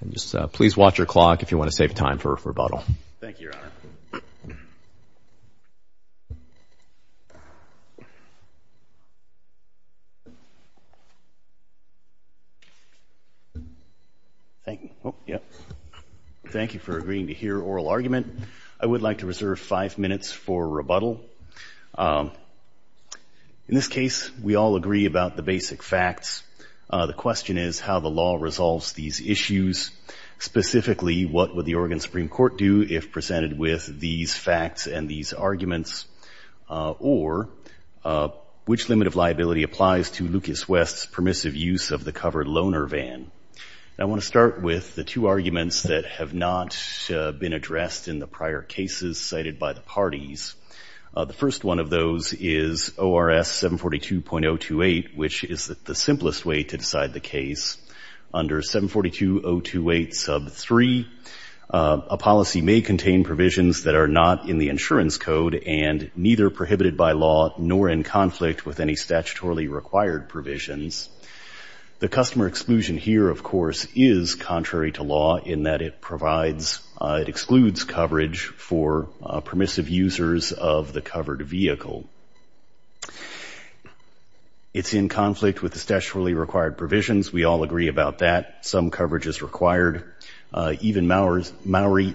and just please watch your clock if you want to save time for rebuttal. Thank you, Your Honor. Thank you for agreeing to hear oral argument. I would like to reserve five minutes for rebuttal. In this case, we all agree about the basic facts. The question is how the law resolves these issues, specifically what would the Oregon Supreme Court do if presented with these facts and these arguments, or which limit of liability applies to Lucas West's permissive use of the covered loaner van. I want to start with the two arguments that have not been addressed in the prior cases cited by the parties. The first one of those is ORS 742.028, which is the simplest way to decide the case. Under 742.028 sub 3, a policy may contain provisions that are not in the insurance code and neither prohibited by law nor in conflict with any statutorily required provisions. The customer exclusion here, of course, is contrary to law in that it excludes coverage for permissive users of the covered vehicle. It's in conflict with the statutorily required provisions. We all agree about that. Some coverage is required. Even Maury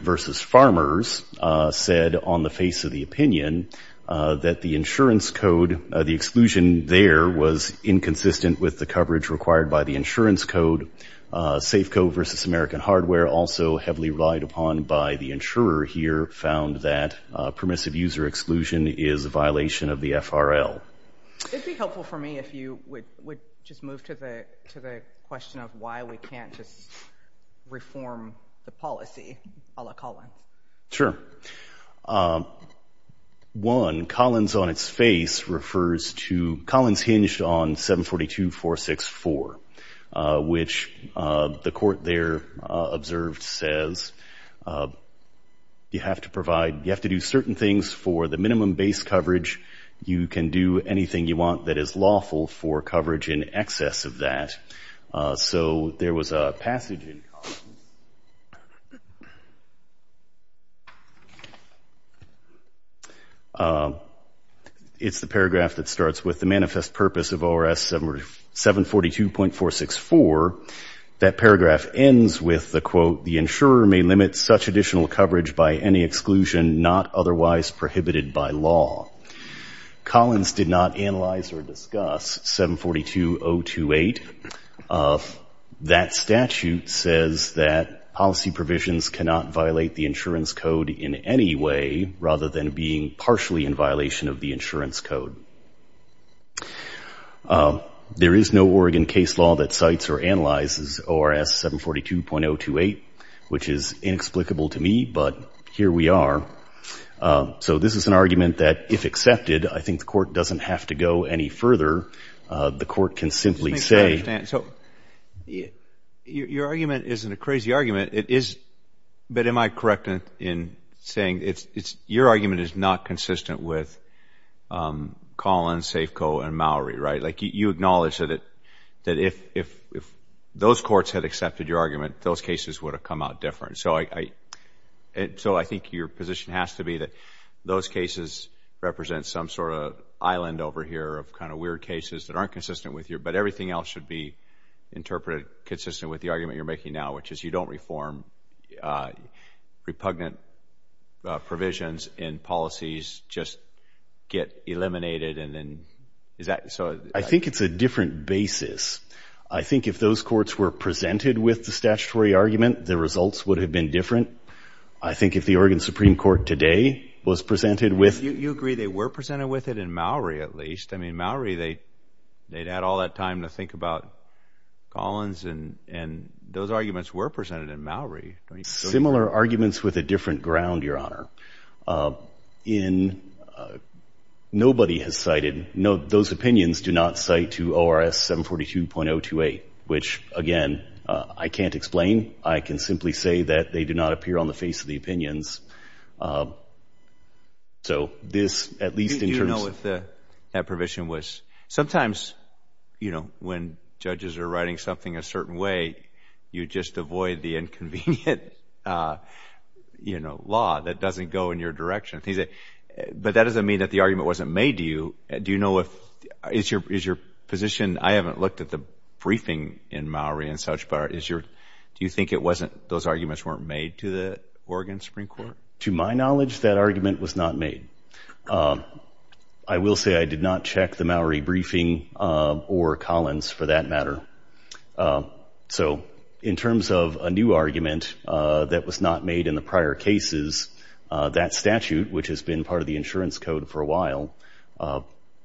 v. Farmers said on the face of the opinion that the insurance code, the exclusion there was inconsistent with the coverage required by the insurance code. Safeco versus American Hardware, also heavily relied upon by the insurer here, found that permissive user exclusion is a violation of the FRL. It would be helpful for me if you would just move to the question of why we can't just reform the policy a la Collin. Sure. One, Collins on its face refers to Collins hinged on 742.464, which the court there observed says you have to provide, you have to do certain things for the minimum base coverage. You can do anything you want that is lawful for coverage in excess of that. So there was a passage in Collins. It's the paragraph that starts with the manifest purpose of ORS 742.464. That paragraph ends with the quote, the insurer may limit such additional coverage by any exclusion not otherwise prohibited by law. Collins did not analyze or discuss 742.028. That statute says that policy provisions cannot violate the insurance code in any way rather than being partially in violation of the insurance code. There is no Oregon case law that cites or analyzes ORS 742.028, which is inexplicable to me, but here we are. So this is an argument that if accepted, I think the court doesn't have to go any further. The court can simply say So your argument isn't a crazy argument. It is, but am I correct in saying it's your argument is not consistent with Collins, Safeco, and Mowry, right? Like you acknowledge that if those courts had accepted your argument, those cases would have come out different. So I think your position has to be that those cases represent some sort of island over here of kind of weird cases that aren't consistent with your, but everything else should be interpreted consistent with the argument you're making now, which is you don't reform repugnant provisions in policies, just get eliminated. And then is that so? I think it's a different basis. I think if those courts were presented with the statutory argument, the results would have been different. I think if the Oregon Supreme Court today was presented with, you agree they were presented with it in Mowry, at least. I mean, Mowry, they, they'd had all that time to think about Collins and, and those arguments were presented in Mowry. Similar arguments with a different ground, Your Honor. In, nobody has cited, no, those opinions do not cite to ORS 742.028, which, again, I can't explain. I can simply say that they do not appear on the face of the opinions. So this, at least in terms of. Do you know if the, that provision was, sometimes, you know, when judges are writing something a certain way, you just avoid the inconvenient, you know, law that doesn't go in your direction. But that doesn't mean that the argument wasn't made to you. Do you know if, is your, is your position, I haven't looked at the briefing in Mowry and such, but is your, do you think it wasn't, those arguments weren't made to the Oregon Supreme Court? To my knowledge, that argument was not made. I will say I did not check the Mowry briefing or Collins for that matter. So, in terms of a new argument that was not made in the prior cases, that statute, which has been part of the insurance code for a while,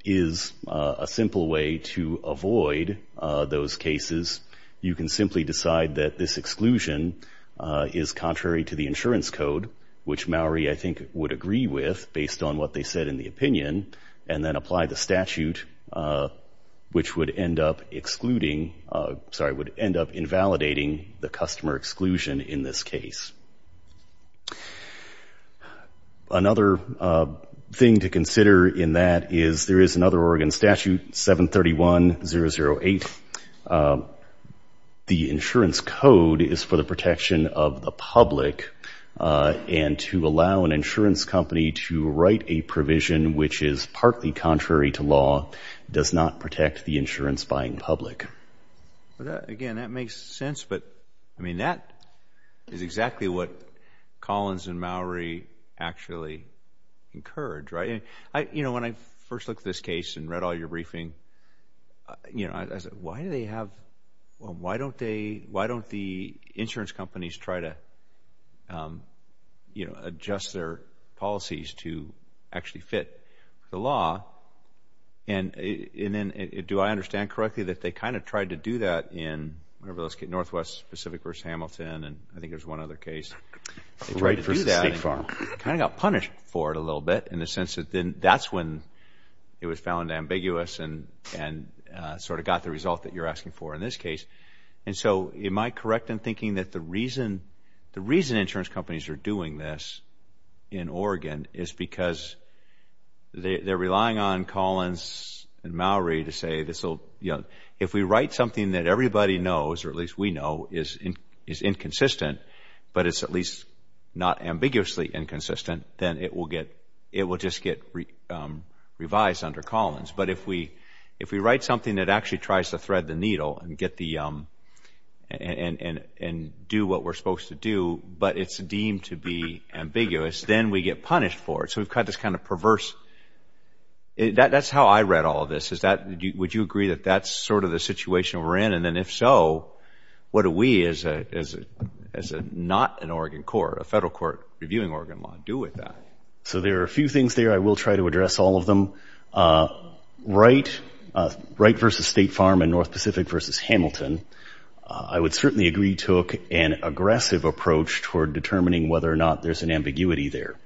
is a simple way to avoid those cases. You can simply decide that this exclusion is contrary to the insurance code, which Mowry, I think, would agree with based on what they said in the opinion, and then apply the statute, which would end up excluding, sorry, would end up invalidating the customer exclusion in this case. Another thing to consider in that is there is another Oregon statute, 731-008. The insurance code is for the protection of the public, and to allow an insurance company to write a provision which is partly contrary to law does not protect the insurance buying public. Again, that makes sense, but, I mean, that is exactly what Collins and Mowry actually encourage, right? You know, when I first looked at this case and read all your briefing, you know, I said, why do they have, why don't they, why don't the insurance companies try to, you know, adjust their policies to actually fit the law, and then do I understand correctly that they kind of tried to do that in Northwest Pacific v. Hamilton, and I think there is one other case. They tried to do that and kind of got punished for it a little bit in the sense that that is when it was found ambiguous and sort of got the result that you are asking for in this case. And so, am I correct in thinking that the reason, the reason insurance companies are doing this in Oregon is because they are relying on Collins and Mowry to say this will, you know, if we write something that everybody knows, or at least we know, is inconsistent, but it is at least not ambiguously inconsistent, then it will get, it will just get revised under Collins. But if we, if we write something that actually tries to thread the needle and get the, and do what we are supposed to do, but it is deemed to be ambiguous, then we get punished for it. So, we have got this kind of perverse, that is how I read all of this, is that, would you agree that that is sort of the situation we are in, and then if so, what do we as a, as a, not an Oregon court, a federal court reviewing Oregon law do with that? So, there are a few things there. I will try to address all of them. Wright, Wright versus State Farm and North Pacific versus Hamilton, I would certainly agree took an aggressive approach toward determining whether or not there is an ambiguity there.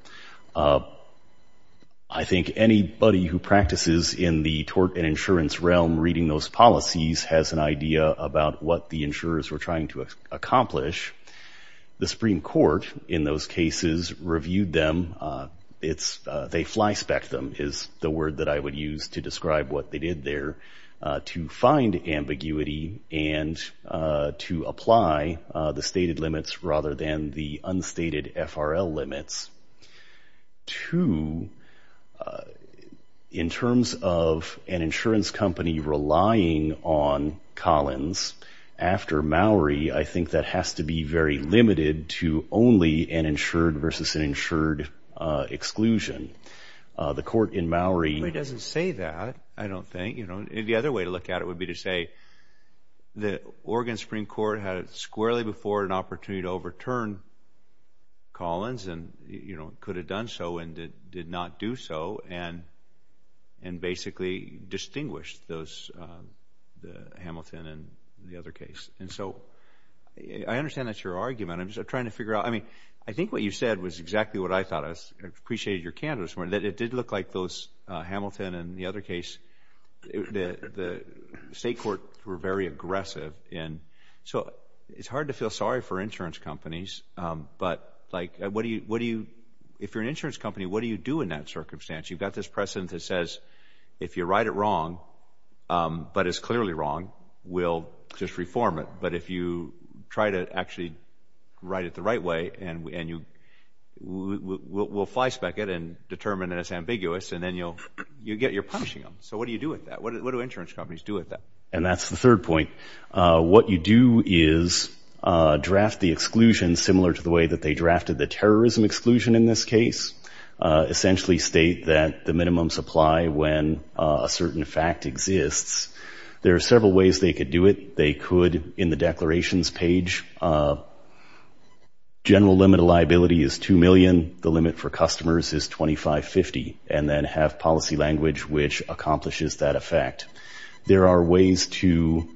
I think anybody who practices in the tort and insurance realm, reading those policies, has an idea about what the insurers were trying to accomplish. The Supreme Court, in those cases, reviewed them. It is, they fly-specced them, is the word that I would use to describe what they did there to find ambiguity and to apply the stated limits rather than the unstated FRL limits. Two, in terms of an insurance company relying on Collins after Mowry, I think that has to be very limited to only an insured versus an insured exclusion. The court in Mowry... Nobody doesn't say that, I don't think. You know, the other way to look at it would be to say that Oregon Supreme Court had squarely before an opportunity to overturn Collins and, you know, could have done so and did not do so and basically distinguished Hamilton and the other case. And so, I understand that is your argument. I am just trying to figure out, I mean, I think what you said was exactly what I thought. I appreciated your candor. It did look like those Hamilton and the other case, the State Court were very aggressive. And so, it is hard to feel sorry for insurance companies, but like what do you, if you are an insurance company, what do you do in that circumstance? You have got this precedent that says if you write it wrong, but it is clearly wrong, we will just reform it. But if you try to actually write it the right way and we will fly spec it and determine it is ambiguous and then you will get, you are punishing them. So, what do you do with that? What do insurance companies do with that? And that is the third point. What you do is draft the exclusion similar to the way that they drafted the terrorism exclusion in this case. Essentially state that the minimum supply when a certain fact exists. There are several ways they could do it. They could, in the declarations page, general limit of liability is 2 million. The limit for customers is 2550 and then have policy language which accomplishes that effect. There are ways to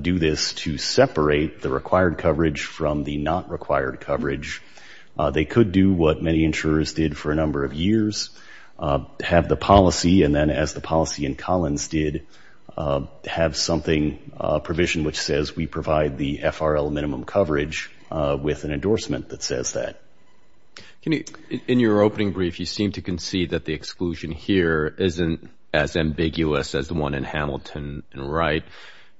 do this to separate the required coverage from the not required coverage. They could do what many insurers did for a number of years, have the policy and then as the policy in Collins did, have something, a provision which says we provide the FRL minimum coverage with an endorsement that says that. In your opening brief, you seem to concede that the exclusion here isn't as ambiguous as the one in Hamilton and Wright.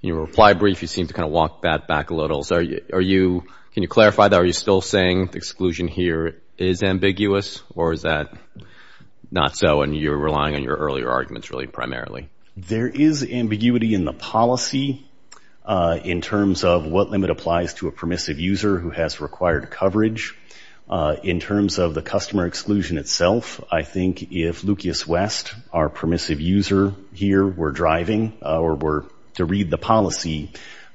In your reply brief, you seem to walk that back a little. Can you clarify that? Are you still saying the exclusion here is ambiguous or is that not so and you're relying on your earlier arguments really primarily? There is ambiguity in the policy in terms of what limit applies to a permissive user who has required coverage. In terms of the customer exclusion itself, I think if Lucas West, our permissive user here were driving or were to read the policy,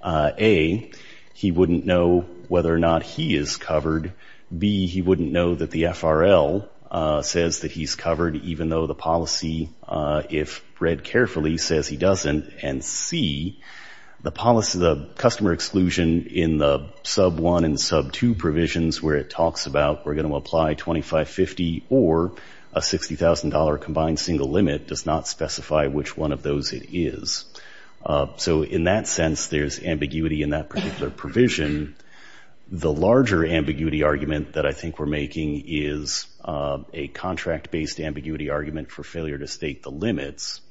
A, he wouldn't know whether or not he is covered. B, he wouldn't know that the FRL says that he's covered even though the policy, if read carefully, says he doesn't. And C, the policy, the customer exclusion in the sub 1 and sub 2 provisions where it talks about we're going to apply 2550 or a $60,000 combined single limit does not specify which one of those it is. So in that sense, there's ambiguity in that particular provision. The larger ambiguity argument that I think we're making is a contract-based ambiguity argument for failure to state the limits.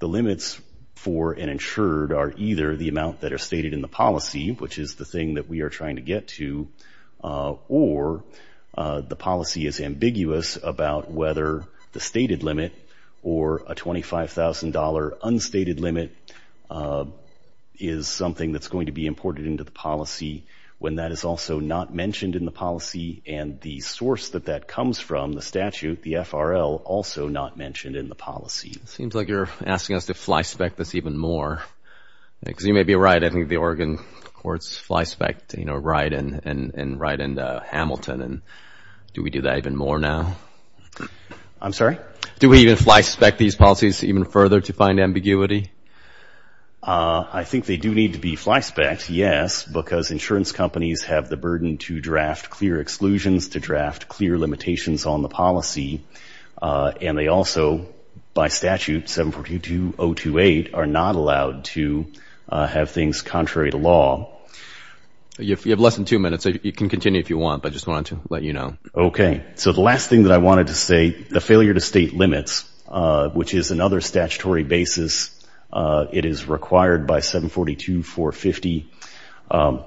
The limits for an amount that are stated in the policy, which is the thing that we are trying to get to, or the policy is ambiguous about whether the stated limit or a $25,000 unstated limit is something that's going to be imported into the policy when that is also not mentioned in the policy and the source that that comes from, the statute, the FRL, also not mentioned in the policy. It seems like you're asking us to fly-spec this even more, because you may be right. I think the Oregon courts fly-spec, you know, Wright and Hamilton. Do we do that even more now? I'm sorry? Do we even fly-spec these policies even further to find ambiguity? I think they do need to be fly-spec, yes, because insurance companies have the burden to draft clear exclusions, to draft clear limitations on the policy. And they also, by statute, 742.028, are not allowed to have things contrary to law. You have less than two minutes. You can continue if you want, but I just wanted to let you know. Okay. So the last thing that I wanted to say, the failure to state limits, which is another statutory basis, it is required by 742.450.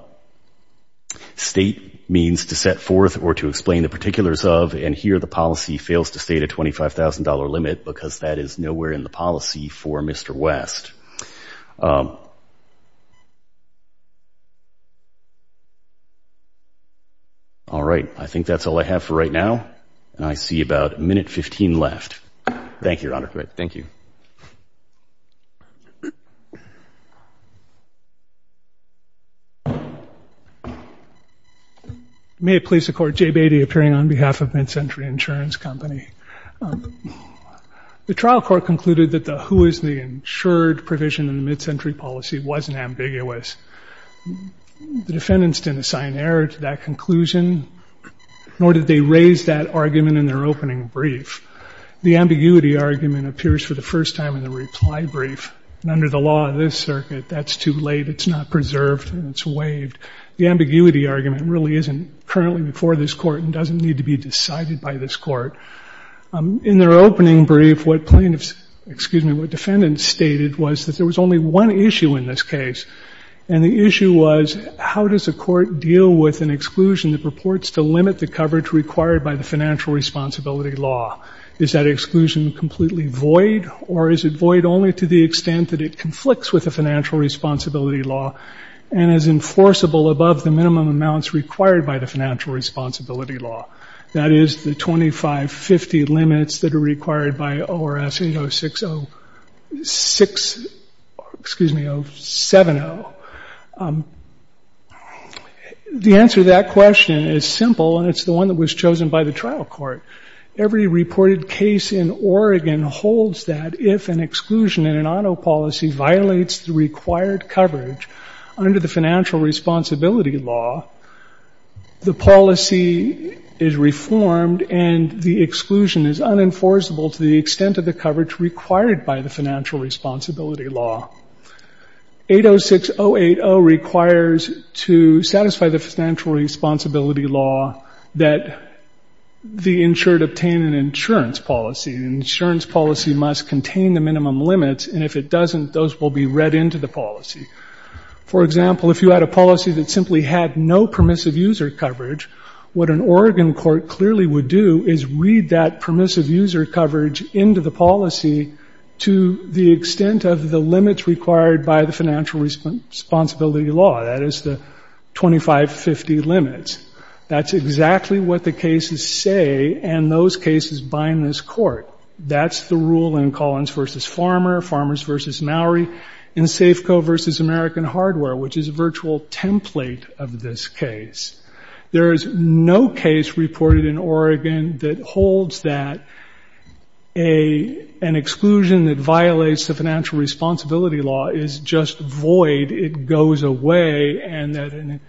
State means to set forth or to explain the particulars of, and here the policy fails to state a $25,000 limit because that is nowhere in the policy for Mr. West. All right, I think that's all I have for right now, and I see about a minute 15 left. Thank you, Your Honor. Thank you. May it please the Court, Jay Beatty appearing on behalf of MidCentury Insurance Company. The trial court concluded that the who is the insured provision in the MidCentury policy wasn't ambiguous. The defendants didn't assign error to that conclusion, nor did they raise that argument in their opening brief. The ambiguity argument appears for the first time in the reply brief, and under the law of this circuit that's too late. It's not preserved and it's waived. The ambiguity argument really isn't currently before this court and doesn't need to be decided by this court. In their opening brief, what plaintiffs, excuse me, what defendants stated was that there was only one issue in this case, and the issue was how does a court deal with an exclusion that purports to limit the coverage required by the financial responsibility law? Is that exclusion completely void, or is it void only to the extent that it conflicts with the financial responsibility law and is enforceable above the minimum amounts required by the financial responsibility law? That is the 2550 limits that are required by ORS 80606, excuse me, 070. The answer to that question is simple, and it's the one that was chosen by the trial court. Every reported case in Oregon holds that if an exclusion in an auto policy violates the required coverage under the financial responsibility law, the policy is reformed and the exclusion is unenforceable to the extent of the coverage required by the financial responsibility law. 806080 requires to satisfy the financial responsibility law that the insured obtain an insurance policy, and the insurance policy must contain the minimum limits, and if it doesn't, those will be read into the policy. For example, if you had a policy that simply had no permissive user coverage, what an Oregon court clearly would do is read that permissive user coverage into the policy to the extent of the limits required by the financial responsibility law, that is the 2550 limits. That's exactly what the cases say, and those cases bind this court. That's the rule in Collins v. Farmer, Farmers v. Mowry, and Safeco v. American Hardware, which is a virtual template of this case. There is no case reported in Oregon that holds that an exclusion that violates the financial responsibility law is just void, it goes away, and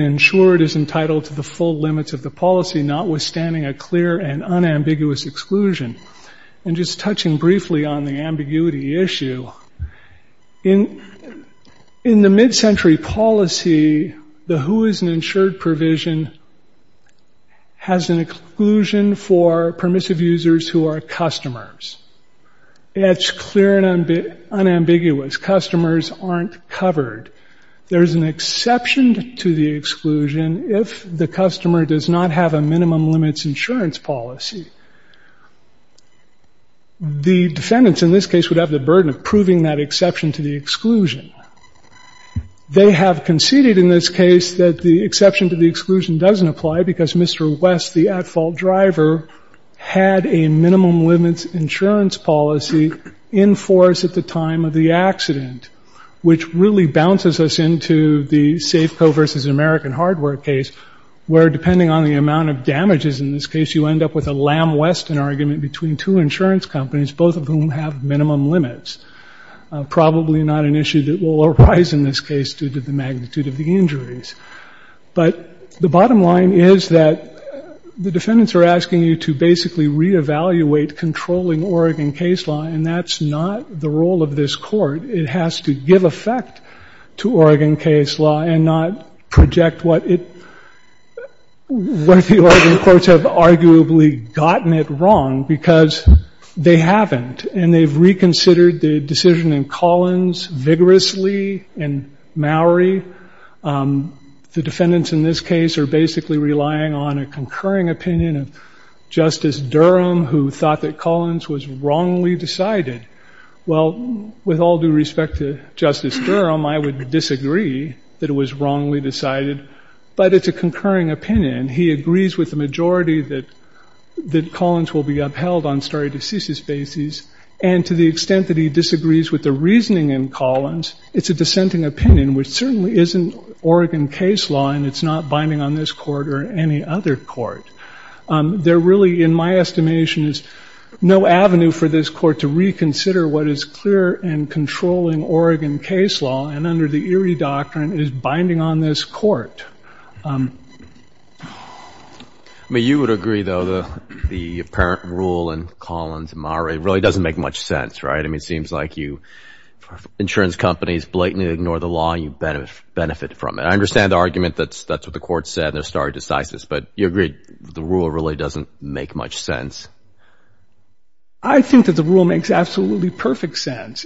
insured is entitled to the full limits of the policy, notwithstanding a clear and unambiguous exclusion. Just touching briefly on the ambiguity issue, in the mid-century policy, the who is an insured provision has an exclusion for permissive users who are customers. It's clear and unambiguous, customers aren't covered. There is an exception to the exclusion if the customer does not have a minimum limits insurance policy. The defendants in this case would have the burden of proving that exception to the exclusion. They have conceded in this case that the exception to the exclusion doesn't apply because Mr. West, the at-fault driver, had a minimum limits insurance policy in force at the time of the accident, which really bounces us into the Safeco v. American Hardware case, where depending on the amount of damages in this case, you end up with a Lamb-Weston argument between two insurance companies, both of whom have minimum limits. Probably not an issue that will arise in this case due to the magnitude of the injuries. But the bottom line is that the defendants are asking you to basically reevaluate controlling Oregon case law, and that's not the role of this Court. It has to give effect to Oregon case law and not project what it – what the Oregon courts have arguably gotten it wrong, because they haven't, and they've reconsidered the decision in Collins vigorously in Maori. The defendants in this case are basically relying on a concurring opinion of Justice Durham, who thought that Collins was wrongly decided. Well, with all due respect to Justice Durham, I would disagree that it was wrongly decided, but it's a concurring opinion. He agrees with the majority that Collins will be upheld on stare decisis basis, and to the extent that he disagrees with the reasoning in Collins, it's a dissenting opinion, which certainly isn't Oregon case law, and it's not binding on this Court or any other Court. There really, in my estimation, is no avenue for this Court to reconsider what is clear and controlling Oregon case law, and under the Erie Doctrine, it is binding on this Court. I mean, you would agree, though, that the apparent rule in Collins and Maori really doesn't make much sense, right? I mean, it seems like you – insurance companies blatantly ignore the law, and you benefit from it. I understand the argument that that's what the Court said, their stare decisis, but you agree the rule really doesn't make much sense? I think that the rule makes absolutely perfect sense.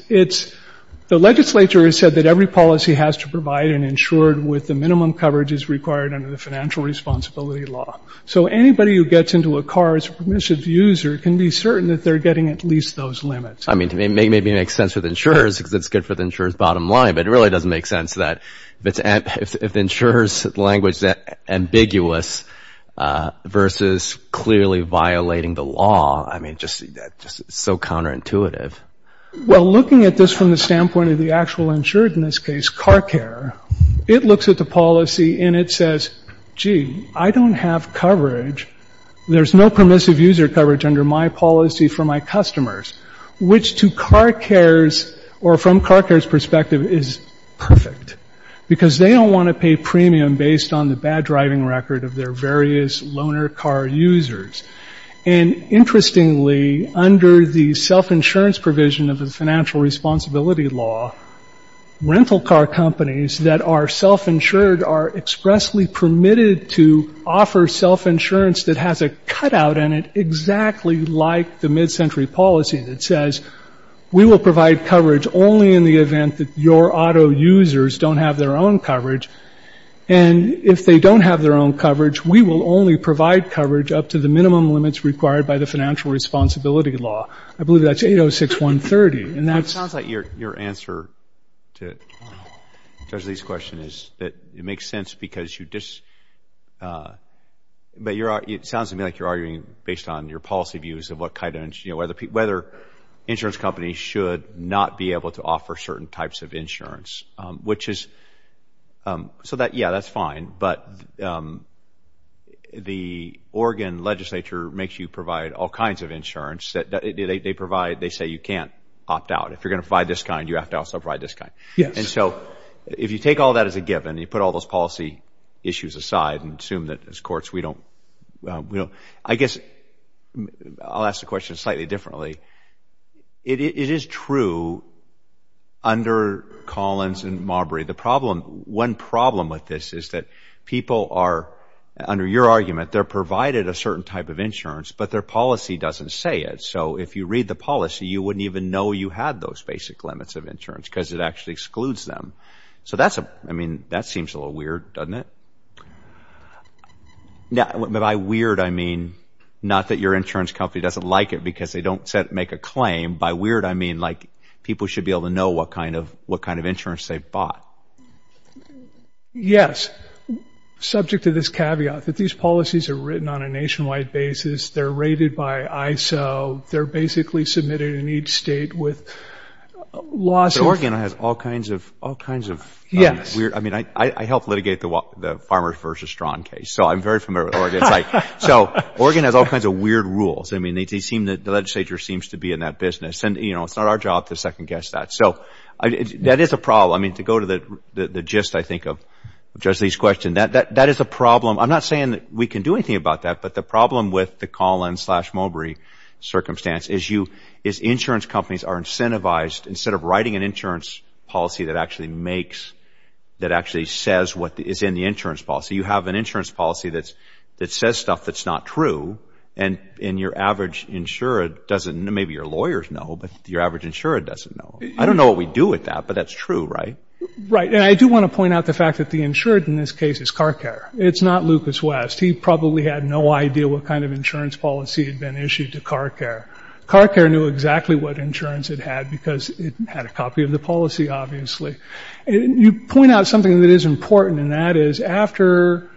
The legislature has said that every policy has to provide an insured with the minimum coverage as required under the financial responsibility law. So anybody who gets into a car as a permissive user can be certain that they're getting at least those limits. I mean, maybe it makes sense with insurers because it's good for the insurer's bottom line, but it really doesn't make sense that if the insurer's language is that ambiguous versus clearly violating the law, I mean, that's just so counterintuitive. Well, looking at this from the standpoint of the actual insured in this case, car care, it looks at the policy and it says, gee, I don't have coverage. There's no permissive user coverage under my policy for my customers, which to car cares or from car care's perspective is perfect because they don't want to pay premium based on the bad driving record of their various loaner car users. And interestingly, under the self-insurance provision of the financial responsibility law, rental car companies that are self-insured are expressly permitted to offer self-insurance that has a cutout in it exactly like the mid-century policy that says, we will provide coverage only in the event that your auto users don't have their own coverage. And if they don't have their own coverage, we will only provide coverage up to the minimum limits required by the financial responsibility law. I believe that's 806.130. And that's... It sounds like your answer to Judge Lee's question is that it makes sense because you just, but it sounds to me like you're arguing based on your policy views of what kind of, whether insurance companies should not be able to offer certain types of insurance, which is, so that, yeah, that's fine. But the Oregon legislature makes you provide all kinds of insurance. They provide, they say you can't opt out. If you're going to provide this kind, you have to also provide this kind. Yes. And so if you take all that as a given, you put all those policy issues aside and assume that as courts we don't, you know. I guess I'll ask the question slightly differently. It is true under Collins and Marbury, the problem, one problem with this is that people are, under your argument, they're provided a certain type of insurance, but their policy doesn't say it. So if you read the policy, you wouldn't even know you had those basic limits of insurance because it actually excludes them. So that's, I mean, that seems a little weird, doesn't it? By weird, I mean not that your insurance company doesn't like it because they don't make a claim. By weird, I mean like people should be able to know what kind of insurance they've bought. Yes. Subject to this caveat that these policies are written on a nationwide basis. They're rated by ISO. They're basically submitted in each state with laws. So Oregon has all kinds of weird. I mean, I helped litigate the Farmers v. Strachan case, so I'm very familiar with Oregon. So Oregon has all kinds of weird rules. I mean, the legislature seems to be in that business. And, you know, it's not our job to second-guess that. So that is a problem. I mean, to go to the gist, I think, of Judge Lee's question, that is a problem. I'm not saying that we can do anything about that, but the problem with the Collins v. Mulberry circumstance is insurance companies are incentivized, instead of writing an insurance policy that actually makes, that actually says what is in the insurance policy, you have an insurance policy that says stuff that's not true and your average insurer doesn't, maybe your lawyers know, but your average insurer doesn't know. I don't know what we do with that, but that's true, right? Right. And I do want to point out the fact that the insured in this case is CarCare. It's not Lucas West. He probably had no idea what kind of insurance policy had been issued to CarCare. CarCare knew exactly what insurance it had because it had a copy of the policy, obviously. You point out something that is important, and that is after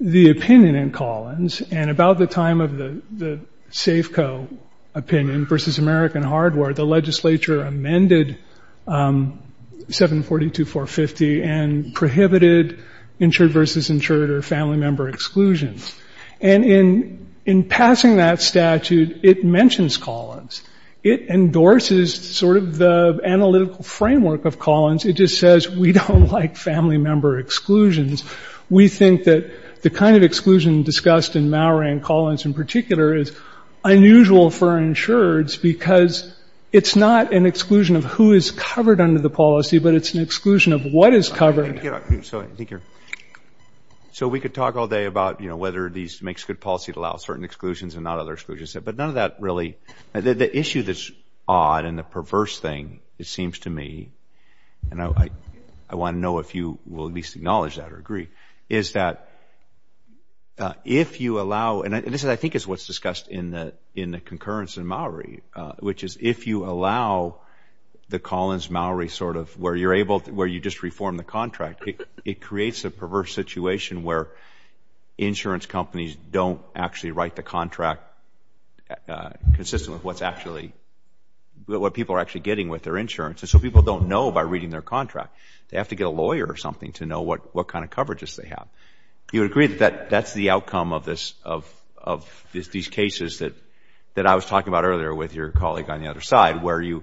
the opinion in Collins and about the time of the Safeco opinion versus American Hardware, the legislature amended 742.450 and prohibited insured versus insured or family member exclusions. And in passing that statute, it mentions Collins. It endorses sort of the analytical framework of Collins. It just says we don't like family member exclusions. We think that the kind of exclusion discussed in Mallory and Collins in particular is unusual for insureds because it's not an exclusion of who is covered under the policy, but it's an exclusion of what is covered. So we could talk all day about, you know, whether this makes good policy to allow certain exclusions and not other exclusions, but none of that really. The issue that's odd and the perverse thing, it seems to me, and I want to know if you will at least acknowledge that or agree, is that if you allow, and this I think is what's discussed in the concurrence in Mallory, which is if you allow the Collins-Mallory sort of where you're able to, where you just reform the contract, it creates a perverse situation where insurance companies don't actually write the contract consistent with what people are actually getting with their insurance. And so people don't know by reading their contract. They have to get a lawyer or something to know what kind of coverages they have. You would agree that that's the outcome of this, of these cases that I was talking about earlier with your colleague on the other side where the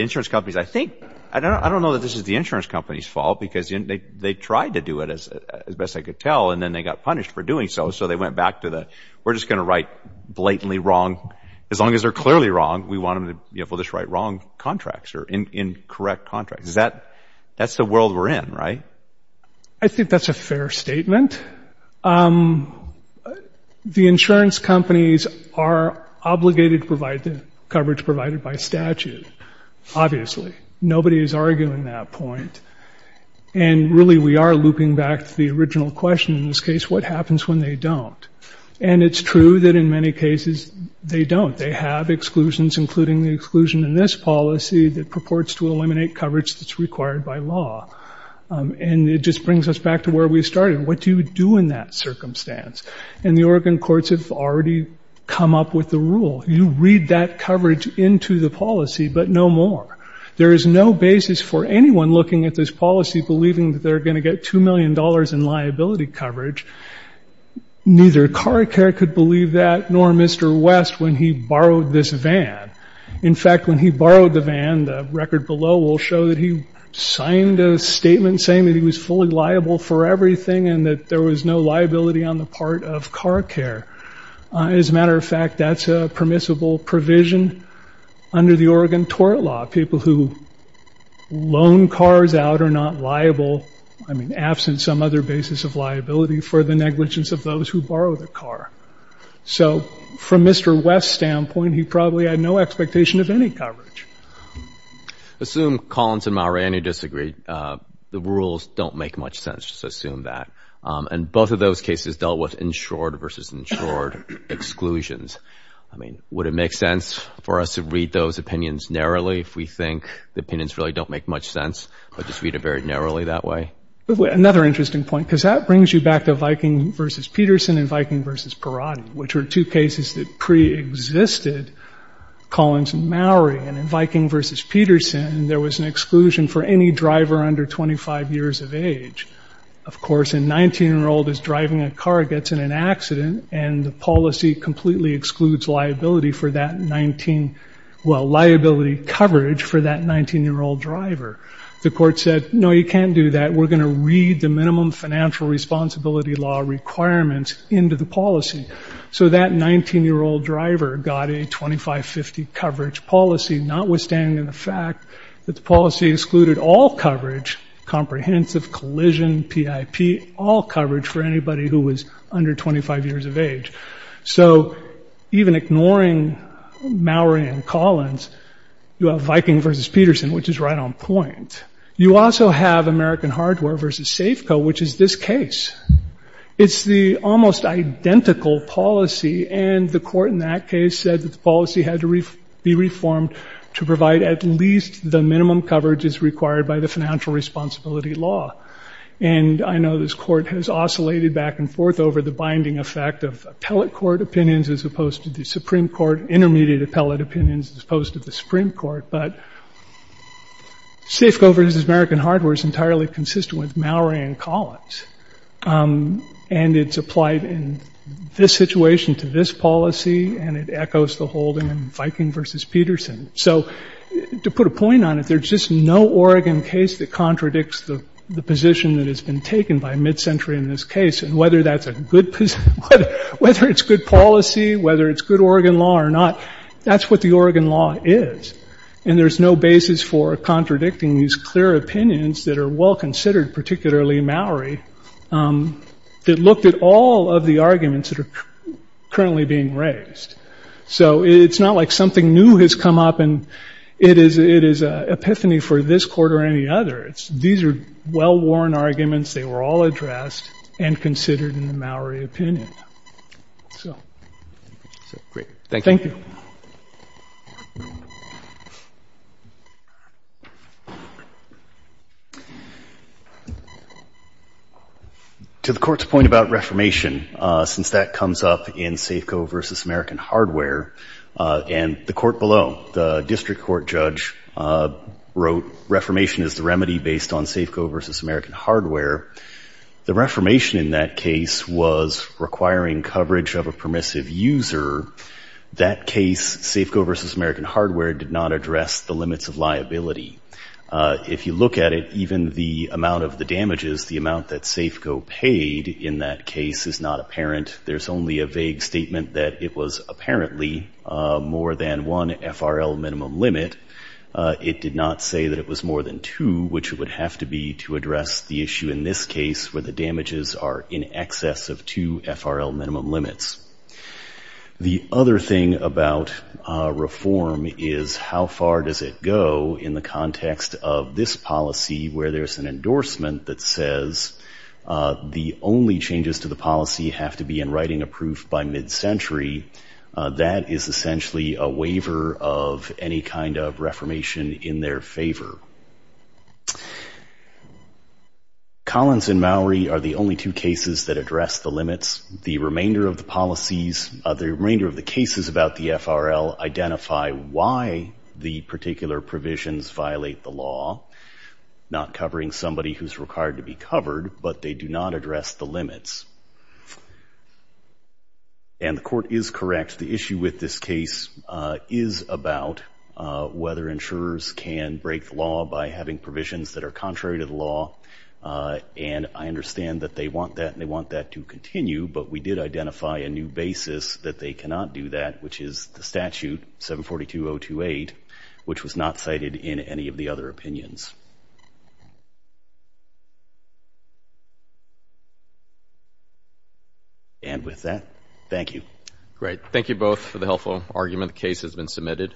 insurance companies, I think, I don't know that this is the insurance company's fault because they tried to do it as best they could tell and then they got punished for doing so. So they went back to the we're just going to write blatantly wrong. As long as they're clearly wrong, we want them to just write wrong contracts or incorrect contracts. That's the world we're in, right? I think that's a fair statement. The insurance companies are obligated to provide the coverage provided by statute, obviously. Nobody is arguing that point. And really we are looping back to the original question in this case, what happens when they don't? And it's true that in many cases they don't. They have exclusions, including the exclusion in this policy that purports to eliminate coverage that's required by law. And it just brings us back to where we started. What do you do in that circumstance? And the Oregon courts have already come up with the rule. You read that coverage into the policy, but no more. There is no basis for anyone looking at this policy, believing that they're going to get $2 million in liability coverage. Neither Car Care could believe that, nor Mr. West, when he borrowed this van. In fact, when he borrowed the van, the record below will show that he signed a statement saying that he was fully liable for everything and that there was no liability on the part of Car Care. As a matter of fact, that's a permissible provision under the Oregon tort law. People who loan cars out are not liable, I mean, absent some other basis of liability for the negligence of those who borrow the car. So from Mr. West's standpoint, he probably had no expectation of any coverage. Assume Collins and Mowrey disagree. The rules don't make much sense. Just assume that. And both of those cases dealt with insured versus insured exclusions. I mean, would it make sense for us to read those opinions narrowly if we think the opinions really don't make much sense? Or just read it very narrowly that way? Another interesting point, because that brings you back to Viking versus Peterson and Viking versus Perotti, which were two cases that preexisted Collins and Mowrey. And in Viking versus Peterson, there was an exclusion for any driver under 25 years of age. Of course, a 19-year-old is driving a car, gets in an accident, and the policy completely excludes liability coverage for that 19-year-old driver. The court said, no, you can't do that. We're going to read the minimum financial responsibility law requirements into the policy. So that 19-year-old driver got a 25-50 coverage policy, notwithstanding the fact that the policy excluded all coverage, comprehensive, collision, PIP, all coverage for anybody who was under 25 years of age. So even ignoring Mowrey and Collins, you have Viking versus Peterson, which is right on point. You also have American Hardware versus Safeco, which is this case. It's the almost identical policy, and the court in that case said that the policy had to be reformed to provide at least the minimum coverage as required by the financial responsibility law. And I know this court has oscillated back and forth over the binding effect of appellate court opinions as opposed to the Supreme Court, intermediate appellate opinions as opposed to the Supreme Court. But Safeco versus American Hardware is entirely consistent with Mowrey and Collins, and it's applied in this situation to this policy, and it echoes the holding in Viking versus Peterson. So to put a point on it, there's just no Oregon case that contradicts the position that has been taken by mid-century in this case, and whether that's a good position, whether it's good policy, whether it's good Oregon law or not, that's what the Oregon law is. And there's no basis for contradicting these clear opinions that are well considered, particularly Mowrey, that looked at all of the arguments that are currently being raised. So it's not like something new has come up, and it is an epiphany for this court or any other. These are well-worn arguments. They were all addressed and considered in the Mowrey opinion. Great. Thank you. Thank you. To the court's point about reformation, since that comes up in Safeco versus American Hardware, and the court below, the district court judge wrote, reformation is the remedy based on Safeco versus American Hardware. The reformation in that case was requiring coverage of a permissive user. That case, Safeco versus American Hardware, did not address the limits of liability. If you look at it, even the amount of the damages, the amount that Safeco paid in that case is not apparent. There's only a vague statement that it was apparently more than one FRL minimum limit. It did not say that it was more than two, which would have to be to address the issue in this case where the damages are in excess of two FRL minimum limits. The other thing about reform is how far does it go in the context of this policy where there's an endorsement that says the only changes to the policy have to be in writing approved by mid-century. That is essentially a waiver of any kind of reformation in their favor. Collins and Mowrey are the only two cases that address the limits. The remainder of the cases about the FRL identify why the particular provisions violate the law, not covering somebody who's required to be covered, but they do not address the limits. The court is correct. The issue with this case is about whether insurers can break the law by having provisions that are contrary to the law. And I understand that they want that and they want that to continue, but we did identify a new basis that they cannot do that, which is the statute 742.028, which was not cited in any of the other opinions. And with that, thank you. Great. Thank you both for the helpful argument. The case has been submitted.